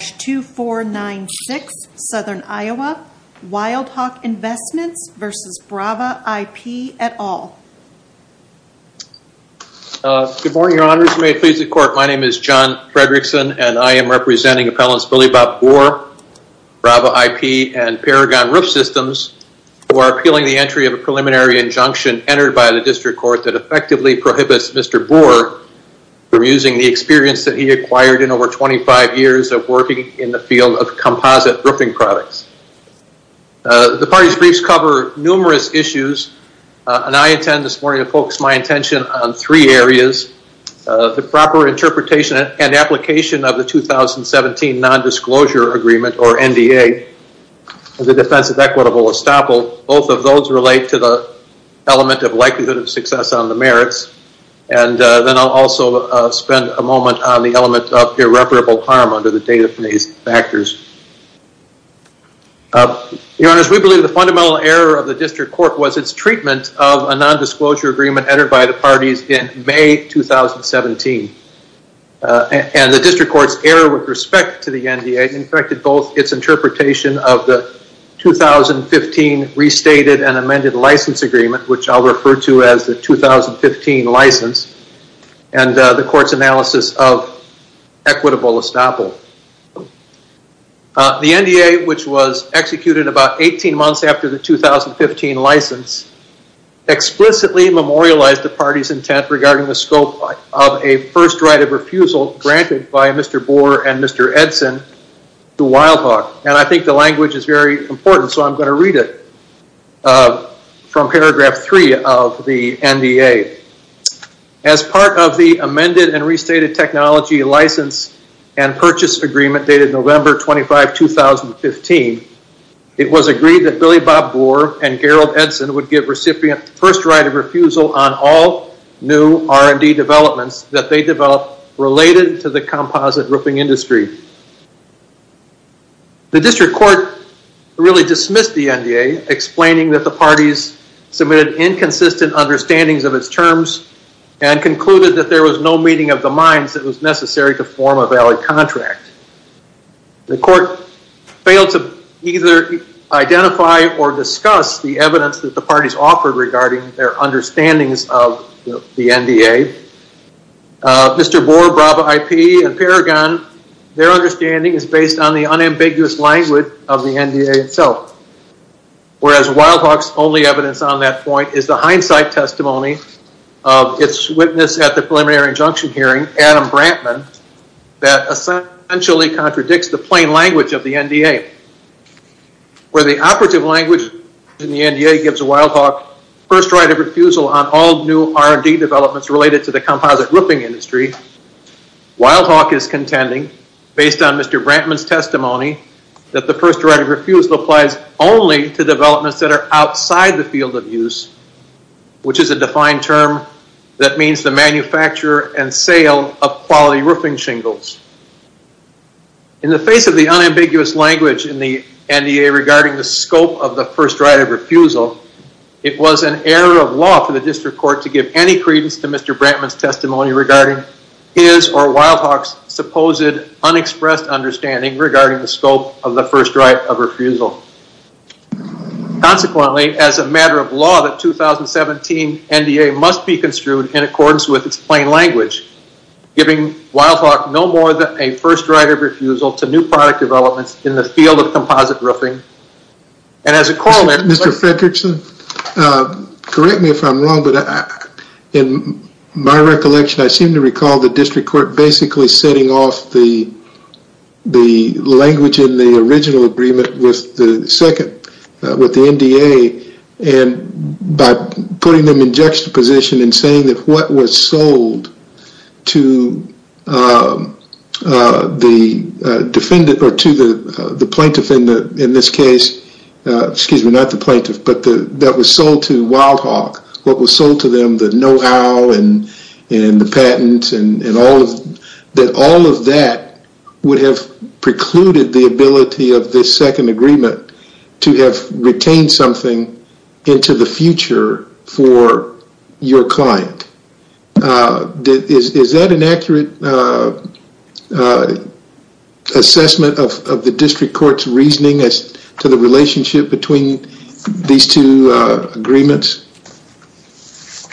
2496 Southern Iowa, Wildhawk Investments v. Brava I.P. et al. Good morning, Your Honors. May it please the Court, my name is John Fredrickson, and I am representing Appellants Billy Bob Boer, Brava I.P., and Paragon Roof Systems, who are appealing the entry of a preliminary injunction entered by the District Court that effectively prohibits Mr. Boer from using the experience that he acquired in over 25 years of working in the field of composite roofing products. The party's briefs cover numerous issues, and I intend this morning to focus my attention on three areas. The proper interpretation and application of the 2017 Non-Disclosure Agreement, or NDA, the Defense of Equitable Estoppel, both of those relate to the element of likelihood of success on the merits, and then I'll also spend a moment on the element of irreparable harm under the database factors. Your Honors, we believe the fundamental error of the District Court was its treatment of a Non-Disclosure Agreement entered by the parties in May 2017. And the District Court's error with respect to the NDA infected both its interpretation of the 2015 Restated and Amended License Agreement, which I'll refer to as the 2015 License, and the Court's analysis of Equitable Estoppel. The NDA, which was executed about 18 months after the 2015 License, explicitly memorialized the party's intent regarding the scope of a first right of refusal granted by Mr. Boer and Mr. Edson to Wildhawk, and I think the language is very important, so I'm going to read it from paragraph 3 of the NDA. As part of the Amended and Restated Technology License and Purchase Agreement dated November 25, 2015, it was agreed that Billy Bob Boer and Gerald Edson would give recipient first right of refusal on all new R&D developments that they develop related to the composite roofing industry. The District Court really dismissed the NDA, explaining that the parties submitted inconsistent understandings of its terms and concluded that there was no meeting of the minds that was necessary to form a valid contract. The Court failed to either identify or discuss the evidence that the parties offered regarding their understandings of the NDA. Mr. Boer, Brava IP, and Paragon, their understanding is based on the unambiguous language of the NDA itself, whereas Wildhawk's only evidence on that point is the hindsight testimony of its witness at the preliminary injunction hearing, Adam Brantman, that essentially contradicts the plain language of the NDA. Where the operative language in the NDA gives Wildhawk first right of refusal on all new R&D developments related to the composite roofing industry, Wildhawk is contending, based on Mr. Brantman's testimony, that the first right of refusal applies only to developments that are outside the field of use, which is a defined term that means the manufacture and sale of quality roofing shingles. In the face of the unambiguous language in the NDA regarding the scope of the first right of refusal, it was an error of law for the district court to give any credence to Mr. Brantman's testimony regarding his or Wildhawk's supposed unexpressed understanding regarding the scope of the first right of refusal. Consequently, as a matter of law, the 2017 NDA must be construed in accordance with its plain language, giving Wildhawk no more than a first right of refusal to new product developments in the field of composite roofing, and Mr. Fredrickson, correct me if I'm wrong, but in my recollection, I seem to recall the district court basically setting off the the language in the original agreement with the second, with the NDA, and by putting them in juxtaposition and saying that what was sold to the defendant, or to the the plaintiff in this case, excuse me, not the plaintiff, but that was sold to Wildhawk, what was sold to them, the know-how and the patents and all of that, that all of that would have precluded the ability of this second agreement to have retained something into the future for Is that an accurate assessment of the district court's reasoning as to the relationship between these two agreements?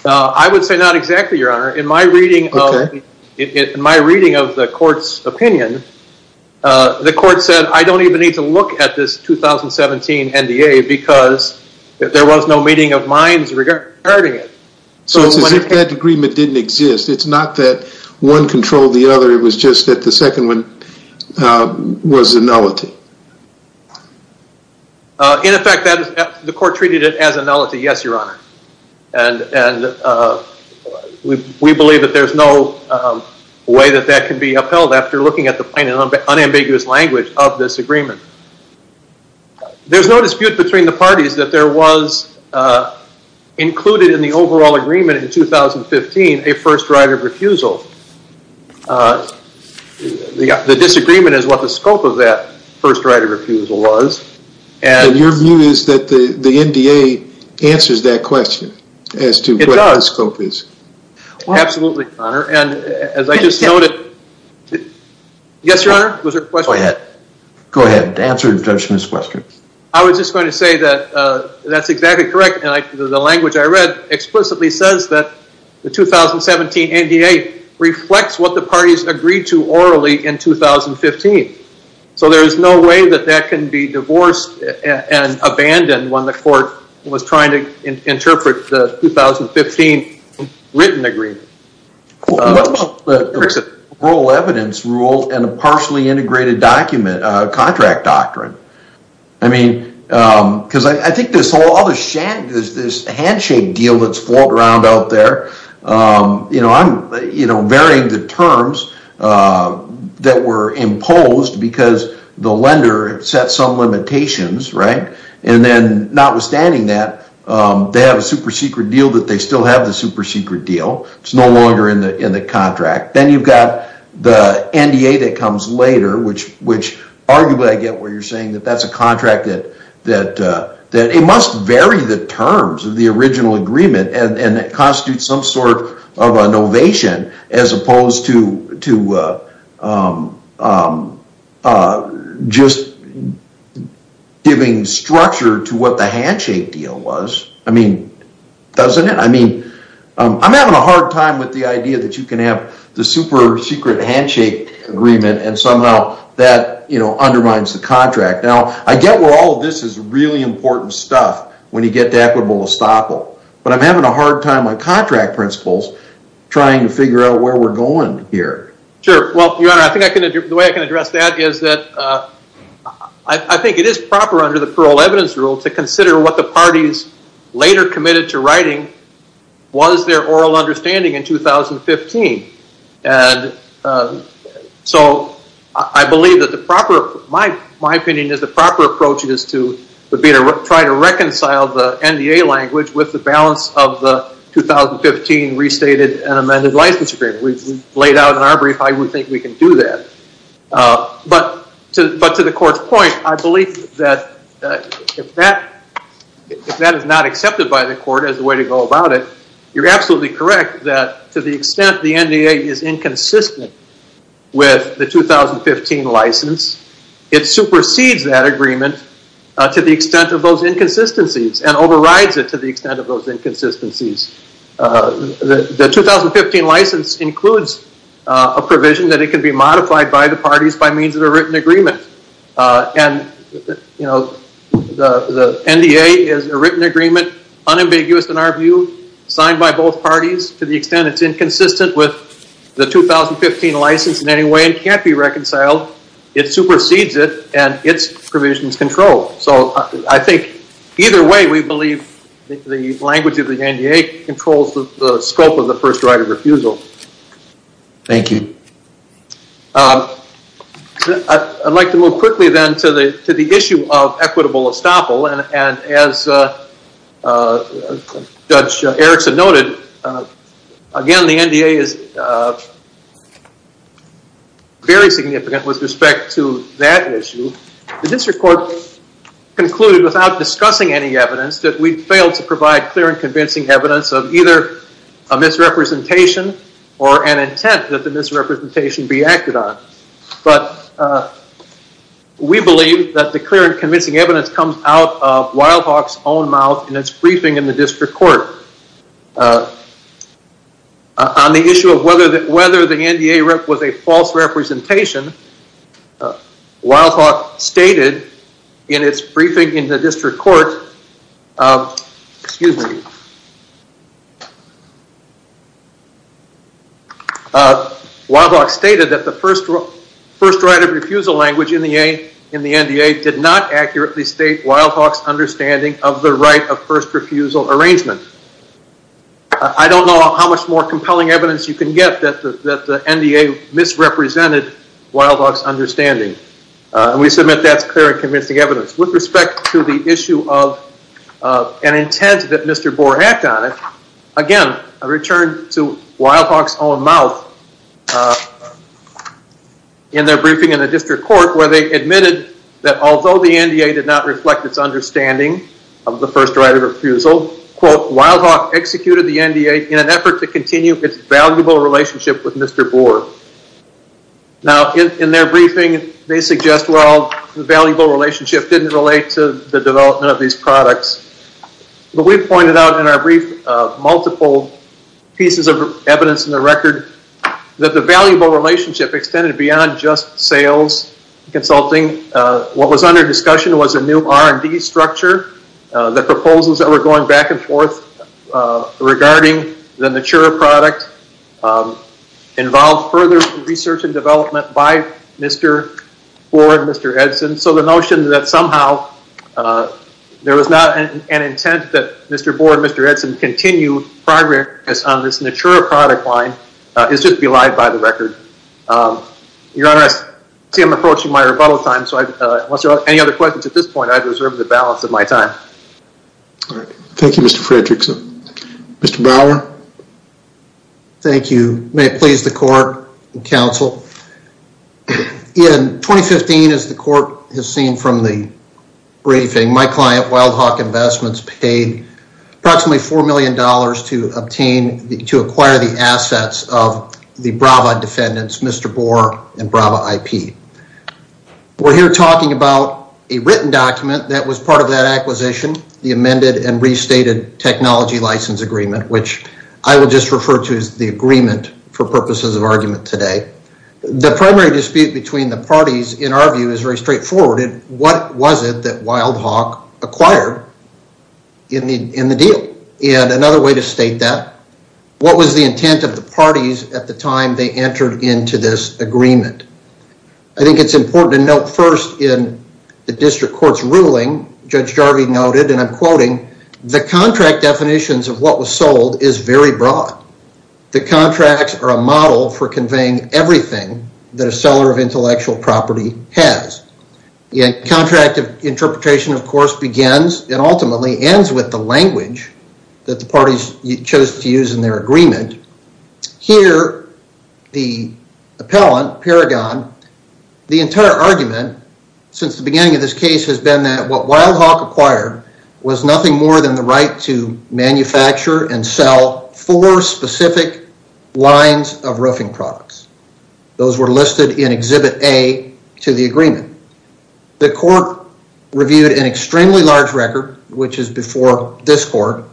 I would say not exactly, your honor. In my reading of the court's opinion, the court said I don't even need to look at this 2017 NDA because there was no meeting of minds regarding it. So it's as if that agreement didn't exist. It's not that one controlled the other, it was just that the second one was a nullity. In effect, the court treated it as a nullity, yes, your honor, and we believe that there's no way that that can be upheld after looking at the plain and unambiguous language of this agreement. There's no dispute between the parties that there was included in the overall agreement in 2015, a first right of refusal. The disagreement is what the scope of that first right of refusal was. And your view is that the the NDA answers that question as to what the scope is. Absolutely, your honor, and as I just noted... Yes, your honor, was there a question? Go ahead, answer the judge's question. I was just going to say that that's exactly correct, and the language I read explicitly says that the 2017 NDA reflects what the parties agreed to orally in 2015. So there is no way that that can be divorced and abandoned when the court was trying to interpret the 2015 written agreement. Oral evidence rule and a partially integrated document, a contract doctrine, I mean because I think there's all this handshake deal that's floating around out there. You know, I'm, you know, varying the terms that were imposed because the lender set some limitations, right? And then notwithstanding that, they have a super-secret deal that they still have the super-secret deal. It's no longer in the contract. Then you've got the NDA that comes later, which arguably I get where you're saying that that's a contract that it must vary the terms of the original agreement, and that constitutes some sort of an ovation as opposed to just giving structure to what the handshake deal was. I mean, doesn't it? I mean, I'm having a hard time with the idea that you can have the super-secret handshake agreement and somehow that, you know, undermines the contract. Now, I get where all of this is really important stuff when you get to equitable estoppel, but I'm having a hard time on contract principles trying to figure out where we're going here. Sure. Well, your honor, I think I can, the way I can address that is that I think it is proper under the parole evidence rule to consider what the parties later committed to writing was their oral understanding in 2015. And so, I believe that the proper, my opinion is the proper approach is to try to reconcile the NDA language with the balance of the 2015 restated and amended license agreement. We've laid out in our brief how we think we can do that. But to the court's point, I believe that if that is not accepted by the court as a way to go about it, you're absolutely correct that to the extent the NDA is inconsistent with the 2015 license, it supersedes that agreement to the extent of those inconsistencies and overrides it to the extent of those inconsistencies. The 2015 license includes a provision that it can be modified by the parties by means of a written agreement. And, you know, the NDA is a written agreement, unambiguous in our view, signed by both parties to the extent it's inconsistent with the 2015 license in any way and can't be reconciled. It supersedes it and its provisions control. So, I think either way we believe the language of the NDA controls the scope of the first right of refusal. Thank you. I'd like to move quickly then to the to the issue of equitable estoppel and as Judge Erickson noted, again, the NDA is very significant with respect to that issue. The district court concluded without discussing any evidence that we failed to provide clear and convincing evidence of either a misrepresentation or an intent that the misrepresentation be acted on. But we believe that the clear and convincing evidence comes out of Wildhawk's own mouth in its briefing in the district court. On the issue of whether that whether the NDA rep was a false representation, Wildhawk stated in its briefing in the district court, excuse me, Wildhawk stated that the first first right of refusal language in the NDA did not accurately state Wildhawk's understanding of the right of first refusal arrangement. I don't know how much more compelling evidence you can get that the NDA misrepresented Wildhawk's understanding. We submit that's clear and convincing evidence. With respect to the issue of an intent that Mr. Boer acted on it, again, I return to Wildhawk's own mouth in their briefing in the district court where they admitted that although the NDA did not reflect its understanding of the first right of refusal, quote, Wildhawk executed the NDA in an effort to continue its valuable relationship with Mr. Boer. Now in their briefing they suggest, well, the valuable relationship didn't relate to the development of these products. But we've pointed out in our brief multiple pieces of evidence in the record that the valuable relationship extended beyond just sales consulting. What was under discussion was a new R&D structure. The proposals that were going back and forth regarding the Natura product involved further research and development by Mr. Boer and Mr. Edson. So the notion that somehow there was not an intent that Mr. Boer and Mr. Edson continued progress on this Natura product line is just belied by the record. Your Honor, I see I'm approaching my rebuttal time, so unless there are any other questions at this point, I reserve the balance of my time. Thank You, Mr. Fredrickson. Mr. Brower. Thank you. May it please the court and counsel. In 2015, as the court has seen from the briefing, my client, Wildhawk Investments, paid approximately four million dollars to obtain, to acquire the assets of the Brava defendants, Mr. Boer and Brava IP. We're here talking about a written document that was part of that acquisition, the amended and restated technology license agreement, which I will just refer to as the agreement for purposes of argument today. The primary dispute between the parties, in our view, is very straightforward. What was it that Wildhawk acquired in the deal? And another way to state that, what was the intent of the parties at the time they entered into this agreement? I think it's important to note first in the district court's ruling, Judge Jarvie noted, and I'm quoting, the contract definitions of what was sold is very broad. The contracts are a model for conveying everything that a seller of intellectual property has. The contract of interpretation, of course, begins and ultimately ends with the language that the parties chose to use in their agreement. Here, the appellant, Paragon, the entire argument, since the beginning of this case, has been that what Wildhawk acquired was nothing more than the right to manufacture and sell four specific lines of roofing products. Those were listed in Exhibit A to the agreement. The court reviewed an extremely large record, which is before this court,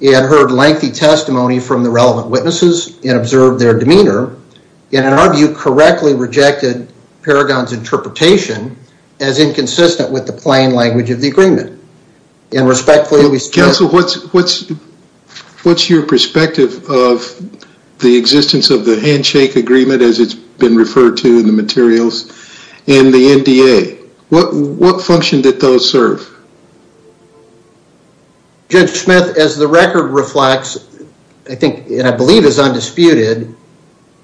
and heard lengthy testimony from the relevant witnesses and observed their demeanor, and in our view, correctly rejected Paragon's interpretation as inconsistent with the plain language of the agreement, and respectfully, we still... What's your perspective of the existence of the handshake agreement, as it's been referred to in the materials, and the NDA? What function did those serve? Judge Smith, as the record reflects, I think, and I believe is undisputed,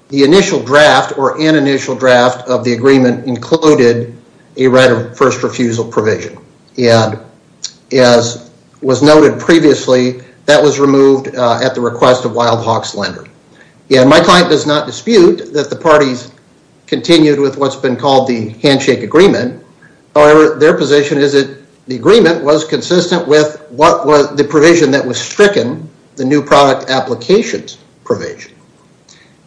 the initial draft, or an initial draft, of the agreement included a right of first refusal provision, and as was noted previously, that was removed at the request of Wildhawk's lender. Yeah, my client does not dispute that the parties continued with what's been called the handshake agreement. However, their position is that the agreement was consistent with what was the provision that was stricken, the new product applications provision.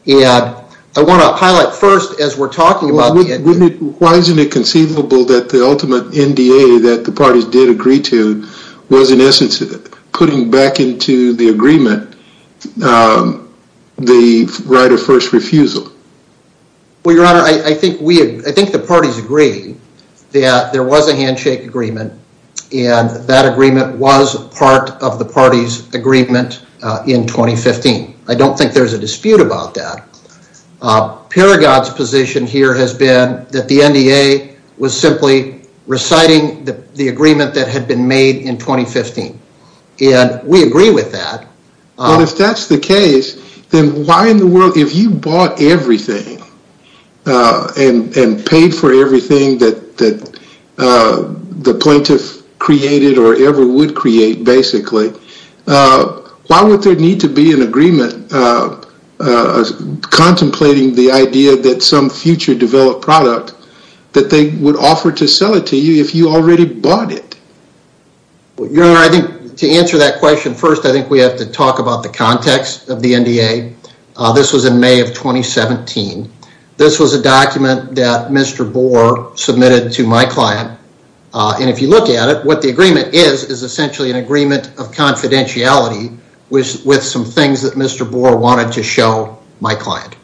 Yeah, I want to highlight first, as we're talking about... Why isn't it conceivable that the ultimate NDA that the parties did agree to was, in essence, putting back into the agreement the right of first refusal? Well, your honor, I think we, I think the parties agree that there was a handshake agreement, and that agreement was part of the party's agreement in 2015. I don't think there's a dispute about that. Paragat's position here has been that the NDA was simply reciting the agreement that had been made in 2015, and we agree with that. Well, if that's the case, then why in the world, if you bought everything and paid for everything that the plaintiff created, or ever would create, basically, why would there need to be an agreement contemplating the idea that some future developed product, that they would offer to sell it to you if you already bought it? Your honor, I think to answer that question, first, I think we have to talk about the context of the NDA. This was in May of 2017. This was a document that Mr. Bohr submitted to my client, and if you look at it, what the agreement is, is essentially an agreement of confidentiality with some things that Mr. Bohr wanted to show my client.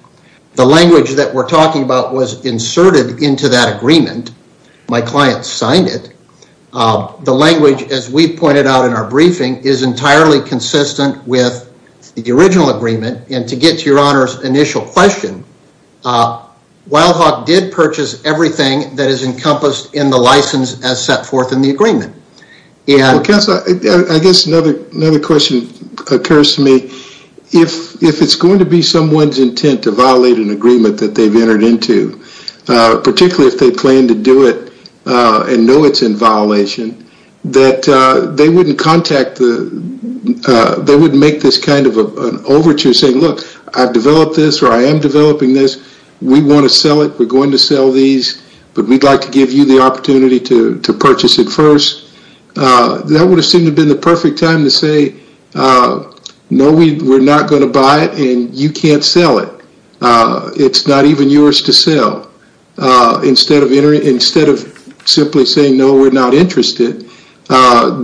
The language that we're talking about was inserted into that agreement. My client signed it. The language, as we pointed out in our briefing, is entirely consistent with the original agreement, and to get to your honor's initial question, Wildhawk did purchase everything that is encompassed in the license as set forth in the agreement. Well, counsel, I guess another question occurs to me. If it's going to be someone's intent to violate an agreement that they've entered into, particularly if they plan to do it and know it's in violation, that they wouldn't contact the, they wouldn't make this kind of an overture saying, look, I've developed this, or I am developing this. We want to sell it. We're going to sell these, but we'd like to give you the opportunity to purchase it first. That would have seemed to have been the perfect time to say, no, we're not going to buy it, and you can't sell it. It's not even yours to sell. Instead of simply saying, no, we're not interested,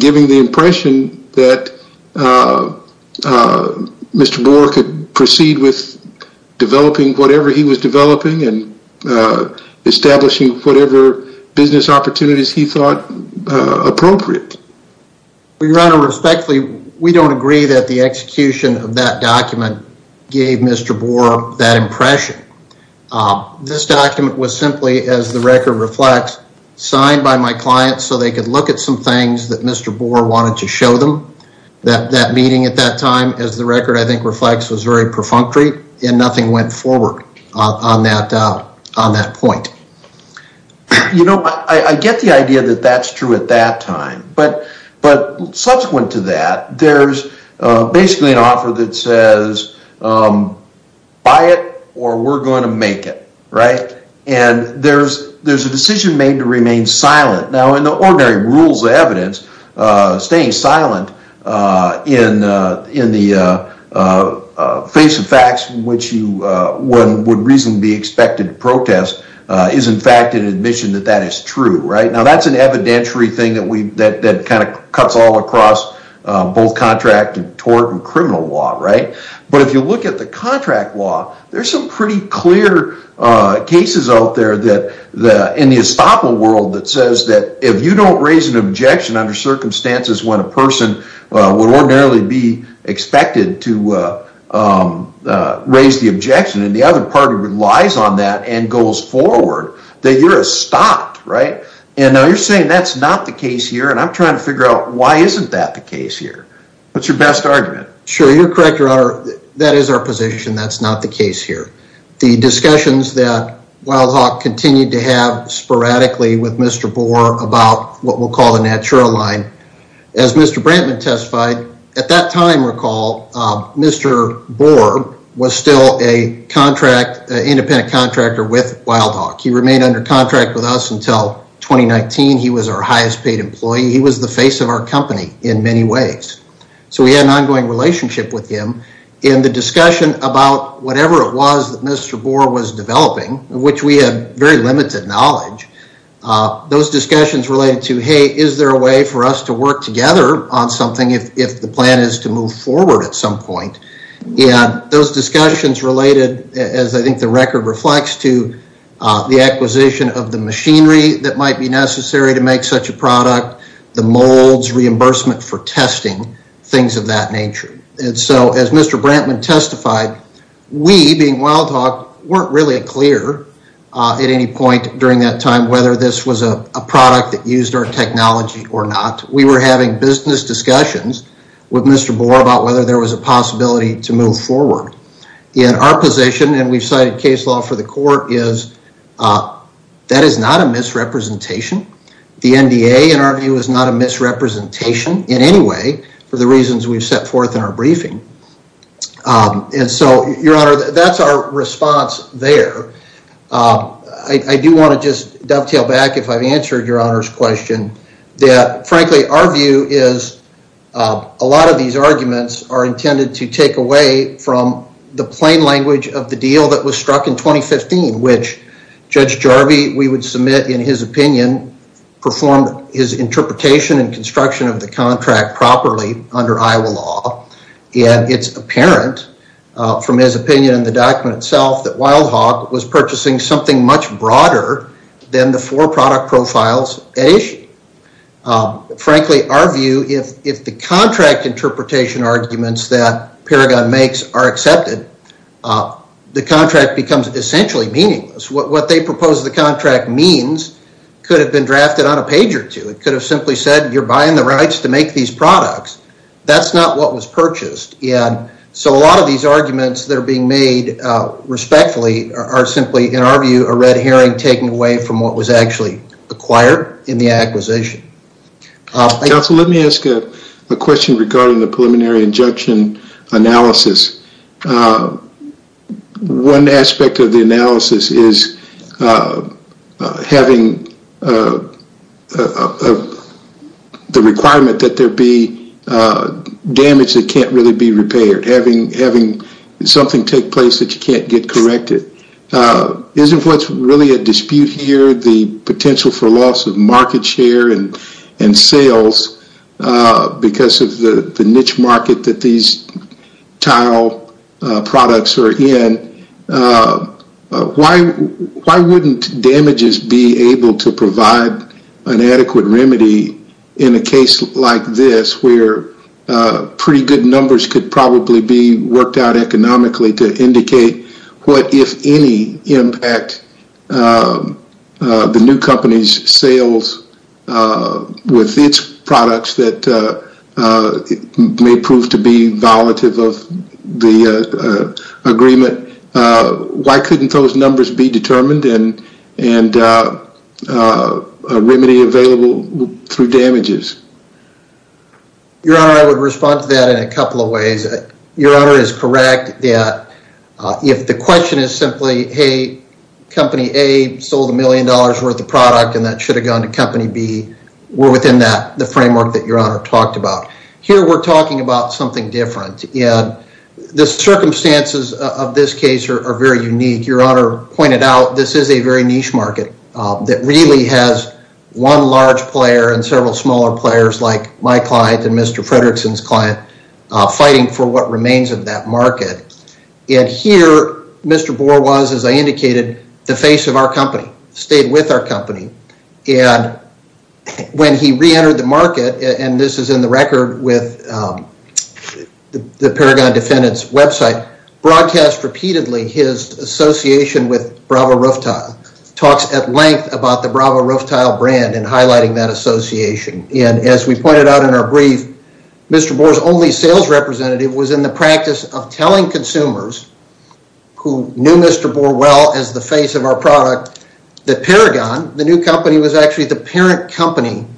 giving the impression that Mr. Boer could proceed with developing whatever he was developing and establishing whatever business opportunities he thought appropriate. Your honor, respectfully, we don't agree that the execution of that document gave Mr. Boer that impression. This document was simply, as the record reflects, signed by my client so they could look at some things that Mr. Boer wanted to show them. That meeting at that time, as the record I think reflects, was very perfunctory, and nothing went forward on that point. You know, I get the idea that that's true at that time, but subsequent to that, there's basically an offer that says buy it, or we're going to make it, right? And there's a decision made to remain silent. Now, in the ordinary rules of evidence, staying silent in the face of facts in which one would reasonably be expected to protest is, in fact, an admission that that is true, right? Now, that's an evidentiary thing that kind of cuts all across both contract and tort and criminal law, right? But if you look at the contract law, there's some pretty clear cases out there that, in the estoppel world, that says that if you don't raise an objection under circumstances when a person would ordinarily be expected to raise the objection, and the other party relies on that and goes forward, that you're estopped, right? And now you're saying that's not the case here, and I'm trying to figure out why isn't that the case here. What's your best argument? Sure, you're correct, Your Honor. That is our position. That's not the case here. The discussions that Wildhawk continued to have sporadically with Mr. Boer about what we'll call the Natura line, as Mr. Brantman testified, at that time, recall, Mr. Boer was still a independent contractor with Wildhawk. He remained under contract with us until 2019. He was our highest paid employee. He was the face of our company in many ways. So we had an ongoing relationship with him. In the discussion about whatever it was that Mr. Boer was developing, which we have very limited knowledge, those discussions related to, hey, is there a way for us to work together on something if the plan is to move forward at some point? Yeah, those discussions related, as I think the record reflects, to the acquisition of the machinery that might be necessary to make such a product, the molds, reimbursement for testing, things of that nature. And so as Mr. Brantman testified, we, being Wildhawk, weren't really clear at any point during that time whether this was a product that used our technology or not. We were having business discussions with Mr. Boer about whether there was a possibility to move forward. In our position, and we've cited case law for the court, is that is not a misrepresentation. The NDA, in our view, is not a misrepresentation in any way for the reasons we've set forth in our briefing. And so, Your Honor, that's our response there. I do want to just dovetail back, if I've answered Your Honor's question, that frankly our view is a lot of these arguments are intended to take away from the plain language of the deal that was struck in 2015, which Judge Jarvie, we would submit in his opinion, performed his interpretation and construction of the contract properly under Iowa law. And it's apparent from his opinion in the document itself that Wildhawk was purchasing something much broader than the four product profiles at issue. Frankly, our view, if the contract interpretation arguments that Paragon makes are accepted, the contract becomes essentially meaningless. What they propose the contract means could have been drafted on a page or two. It could have simply said you're buying the rights to make these products. That's not what was purchased. And so a lot of these arguments that are being made respectfully are simply, in our view, a red herring taken away from what was actually acquired in the acquisition. Counsel, let me ask a question regarding the preliminary injunction analysis. One aspect of the analysis is having the requirement that there be damage that can't really be repaired. Having something take place that you can't get corrected. Isn't what's really a dispute here the potential for loss of market share and sales? Because of the niche market that these tile products are in. Why wouldn't damages be able to provide an adequate remedy in a case like this where pretty good numbers could probably be worked out economically to indicate what, if any, impact the new company's sales with its products that may prove to be violative of the agreement? Why couldn't those numbers be determined and remedy available through damages? Your Honor, I would respond to that in a couple of ways. Your Honor is correct. If the question is simply, hey, company A sold a million dollars worth of product and that should have gone to company B, we're within the framework that Your Honor talked about. Here, we're talking about something different. The circumstances of this case are very unique. Your Honor pointed out this is a very niche market that really has one large player and several smaller players like my client and Mr. Fredrickson's client fighting for what remains of that market. And here, Mr. Bohr was, as I indicated, the face of our company, stayed with our company. When he re-entered the market, and this is in the record with the Paragon Defendant's website, broadcast repeatedly his association with Bravo Rooftile. Talks at length about the Bravo Rooftile brand and highlighting that association. And as we pointed out in our brief, Mr. Bohr's only sales representative was in the practice of telling consumers who knew Mr. Bohr well as the face of our product, that Paragon, the new company, was actually the parent company of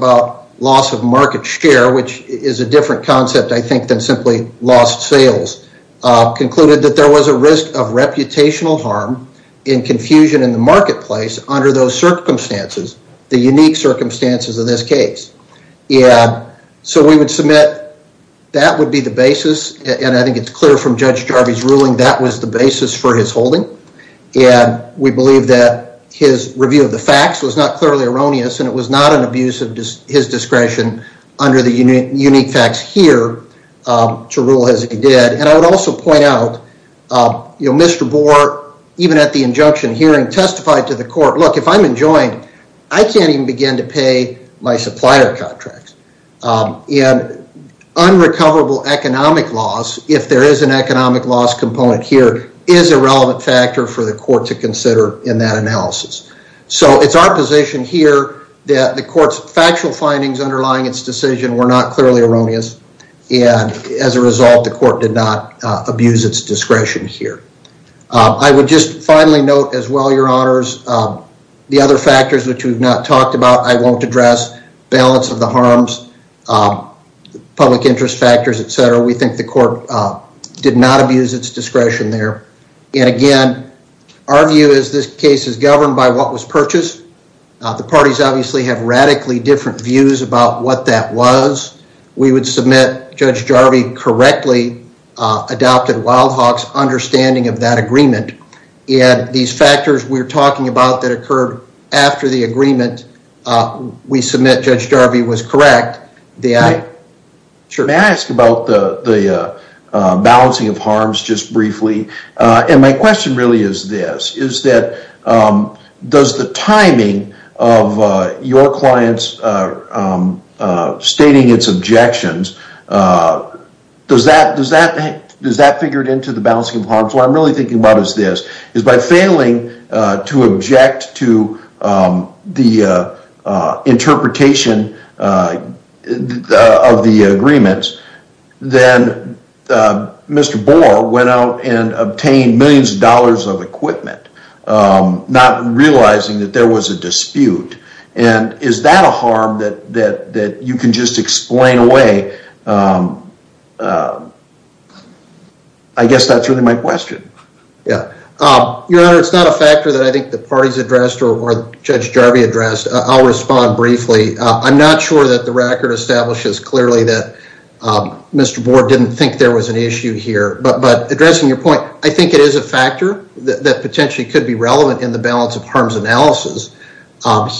the loss of market share, which is a different concept, I think, than simply lost sales. Concluded that there was a risk of reputational harm in confusion in the marketplace under those circumstances, the unique circumstances of this case. Yeah, so we would submit that would be the basis, and I think it's clear from Judge Jarvee's ruling, that was the basis for his holding. And we believe that his review of the facts was not clearly erroneous, and it was not an abuse of his discretion under the unique facts here to rule as he did. And I would also point out, you know, Mr. Bohr, even at the injunction hearing, testified to the court, look, if I'm enjoined, I can't even begin to pay my supplier contracts. And unrecoverable economic loss, if there is an economic loss component here, is a relevant factor for the court to consider in that analysis. So it's our position here that the court's factual findings underlying its decision were not clearly erroneous. And as a result, the court did not abuse its discretion here. I would just finally note as well, your honors, the other factors which we've not talked about, I won't address. Balance of the harms, public interest factors, etc. We think the court did not abuse its discretion there. And again, our view is this case is governed by what was purchased. The parties obviously have radically different views about what that was. We would submit Judge Jarvee correctly adopted Wildhawk's understanding of that agreement. And these factors we're talking about that occurred after the agreement, we submit Judge Jarvee was correct. May I ask about the balancing of harms just briefly? And my question really is this, is that does the timing of your clients stating its objections, does that figure into the balancing of harms? What I'm really thinking about is this, is by failing to object to the interpretation of the agreements, then Mr. Boer went out and obtained millions of dollars of equipment, not realizing that there was a dispute. And is that a harm that you can just explain away? I guess that's really my question. Yeah, Your Honor, it's not a factor that I think the parties addressed or Judge Jarvee addressed. I'll respond briefly. I'm not sure that the record establishes clearly that Mr. Boer didn't think there was an issue here. But addressing your point, I think it is a factor that potentially could be relevant in the balance of harms analysis.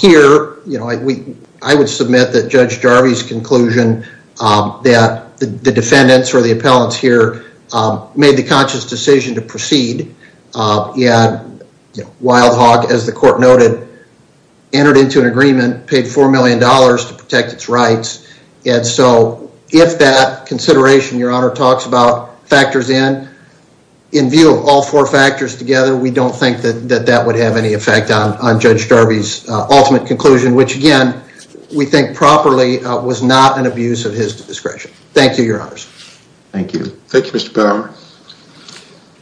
Here, you know, I would submit that Judge Jarvee's conclusion that the defendants or the appellants here made the conscious decision to proceed. Yeah, Wild Hog, as the court noted, entered into an agreement, paid four million dollars to protect its rights. And so if that consideration, Your Honor, talks about factors in, in view of all four factors together, we don't think that that would have any effect on Judge Jarvee's ultimate conclusion, which again, we think properly was not an abuse of his discretion. Thank you, Your Honors. Thank you. Thank you, Mr. Bauer.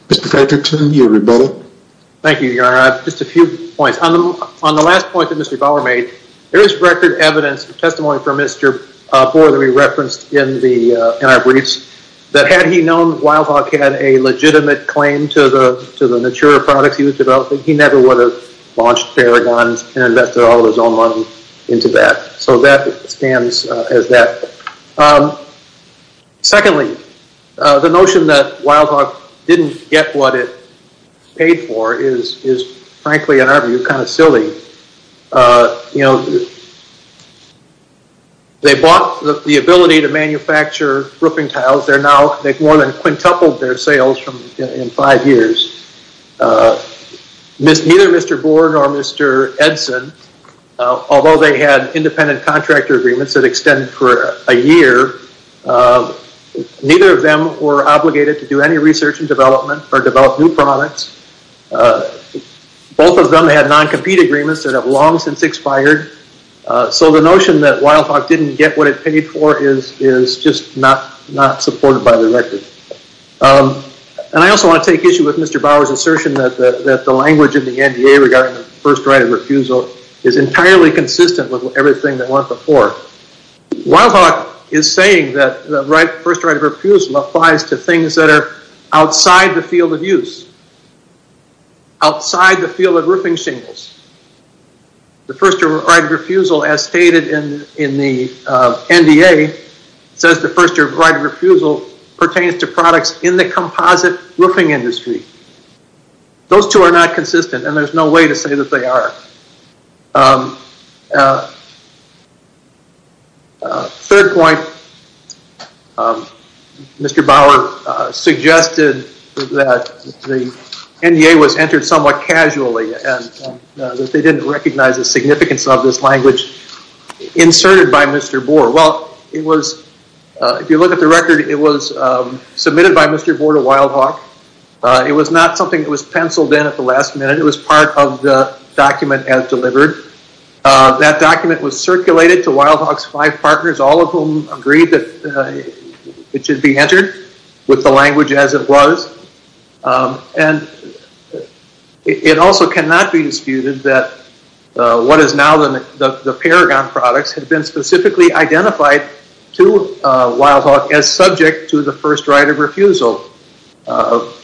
Mr. Gregerton, you're rebuttal. Thank you, Your Honor. Just a few points. On the last point that Mr. Bauer made, there is record evidence, testimony from Mr. Boer that we referenced in our briefs, that had he known Wild Hog had a legitimate claim to the, to the Natura products he was developing, he never would have launched Paragon and invested all of his own money into that. So that stands as that. Secondly, the notion that Wild Hog didn't get what it paid for is, is frankly, in our view, kind of silly. You know, they bought the ability to manufacture roofing tiles. They're now, they've more than quintupled their sales from in five years. Neither Mr. Boer nor Mr. Edson, although they had independent contractor agreements that extend for a year, neither of them were obligated to do any research and development or develop new products. Both of them had non-compete agreements that have long since expired. So the notion that Wild Hog didn't get what it paid for is, is just not, not supported by the record. And I also want to take issue with Mr. Bauer's assertion that the, that the language of the NDA regarding the first right of refusal is entirely consistent with everything they went before. Wild Hog is saying that the right, first right of refusal applies to things that are outside the field of use. Outside the field of roofing shingles. The first right of refusal as stated in the NDA says the first right of refusal pertains to products in the composite roofing industry. Those two are not consistent and there's no way to say that they are. Third point, Mr. Bauer suggested that the NDA was entered somewhat casually and that they didn't recognize the significance of this language inserted by Mr. Boer. Well, it was, if you look at the record, it was submitted by Mr. Boer to Wild Hog. It was not something that was penciled in at the last minute. It was part of the document as delivered. That document was circulated to Wild Hog's five partners, all of whom agreed that it should be entered with the language as it was. And it also cannot be disputed that what is now the Paragon products had been specifically identified to Wild Hog as subject to the first right of refusal. So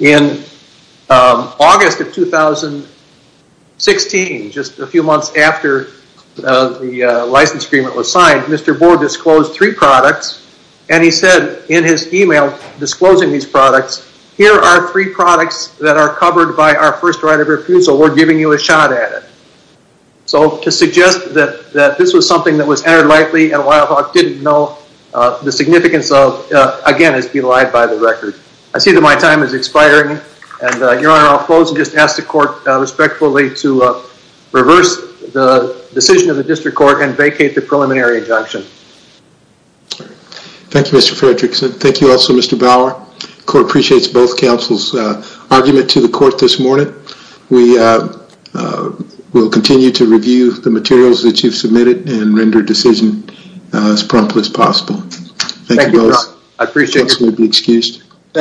in August of 2016, just a few months after the license agreement was signed, Mr. Boer disclosed three products and he said in his email disclosing these products, here are three products that are covered by our first right of refusal. We're giving you a shot at it. So to suggest that this was something that was entered lightly and Wild Hog didn't know the significance of, again, is belied by the record. I see that my time is expiring and, Your Honor, I'll close and just ask the court respectfully to reverse the decision of the district court and vacate the preliminary injunction. Thank you, Mr. Fredrickson. Thank you also, Mr. Boer. Court appreciates both counsel's argument to the court this morning. We will continue to review the materials that you've submitted and render decision as prompt as possible. Thank you both. I appreciate it. You may be excused. Thank you.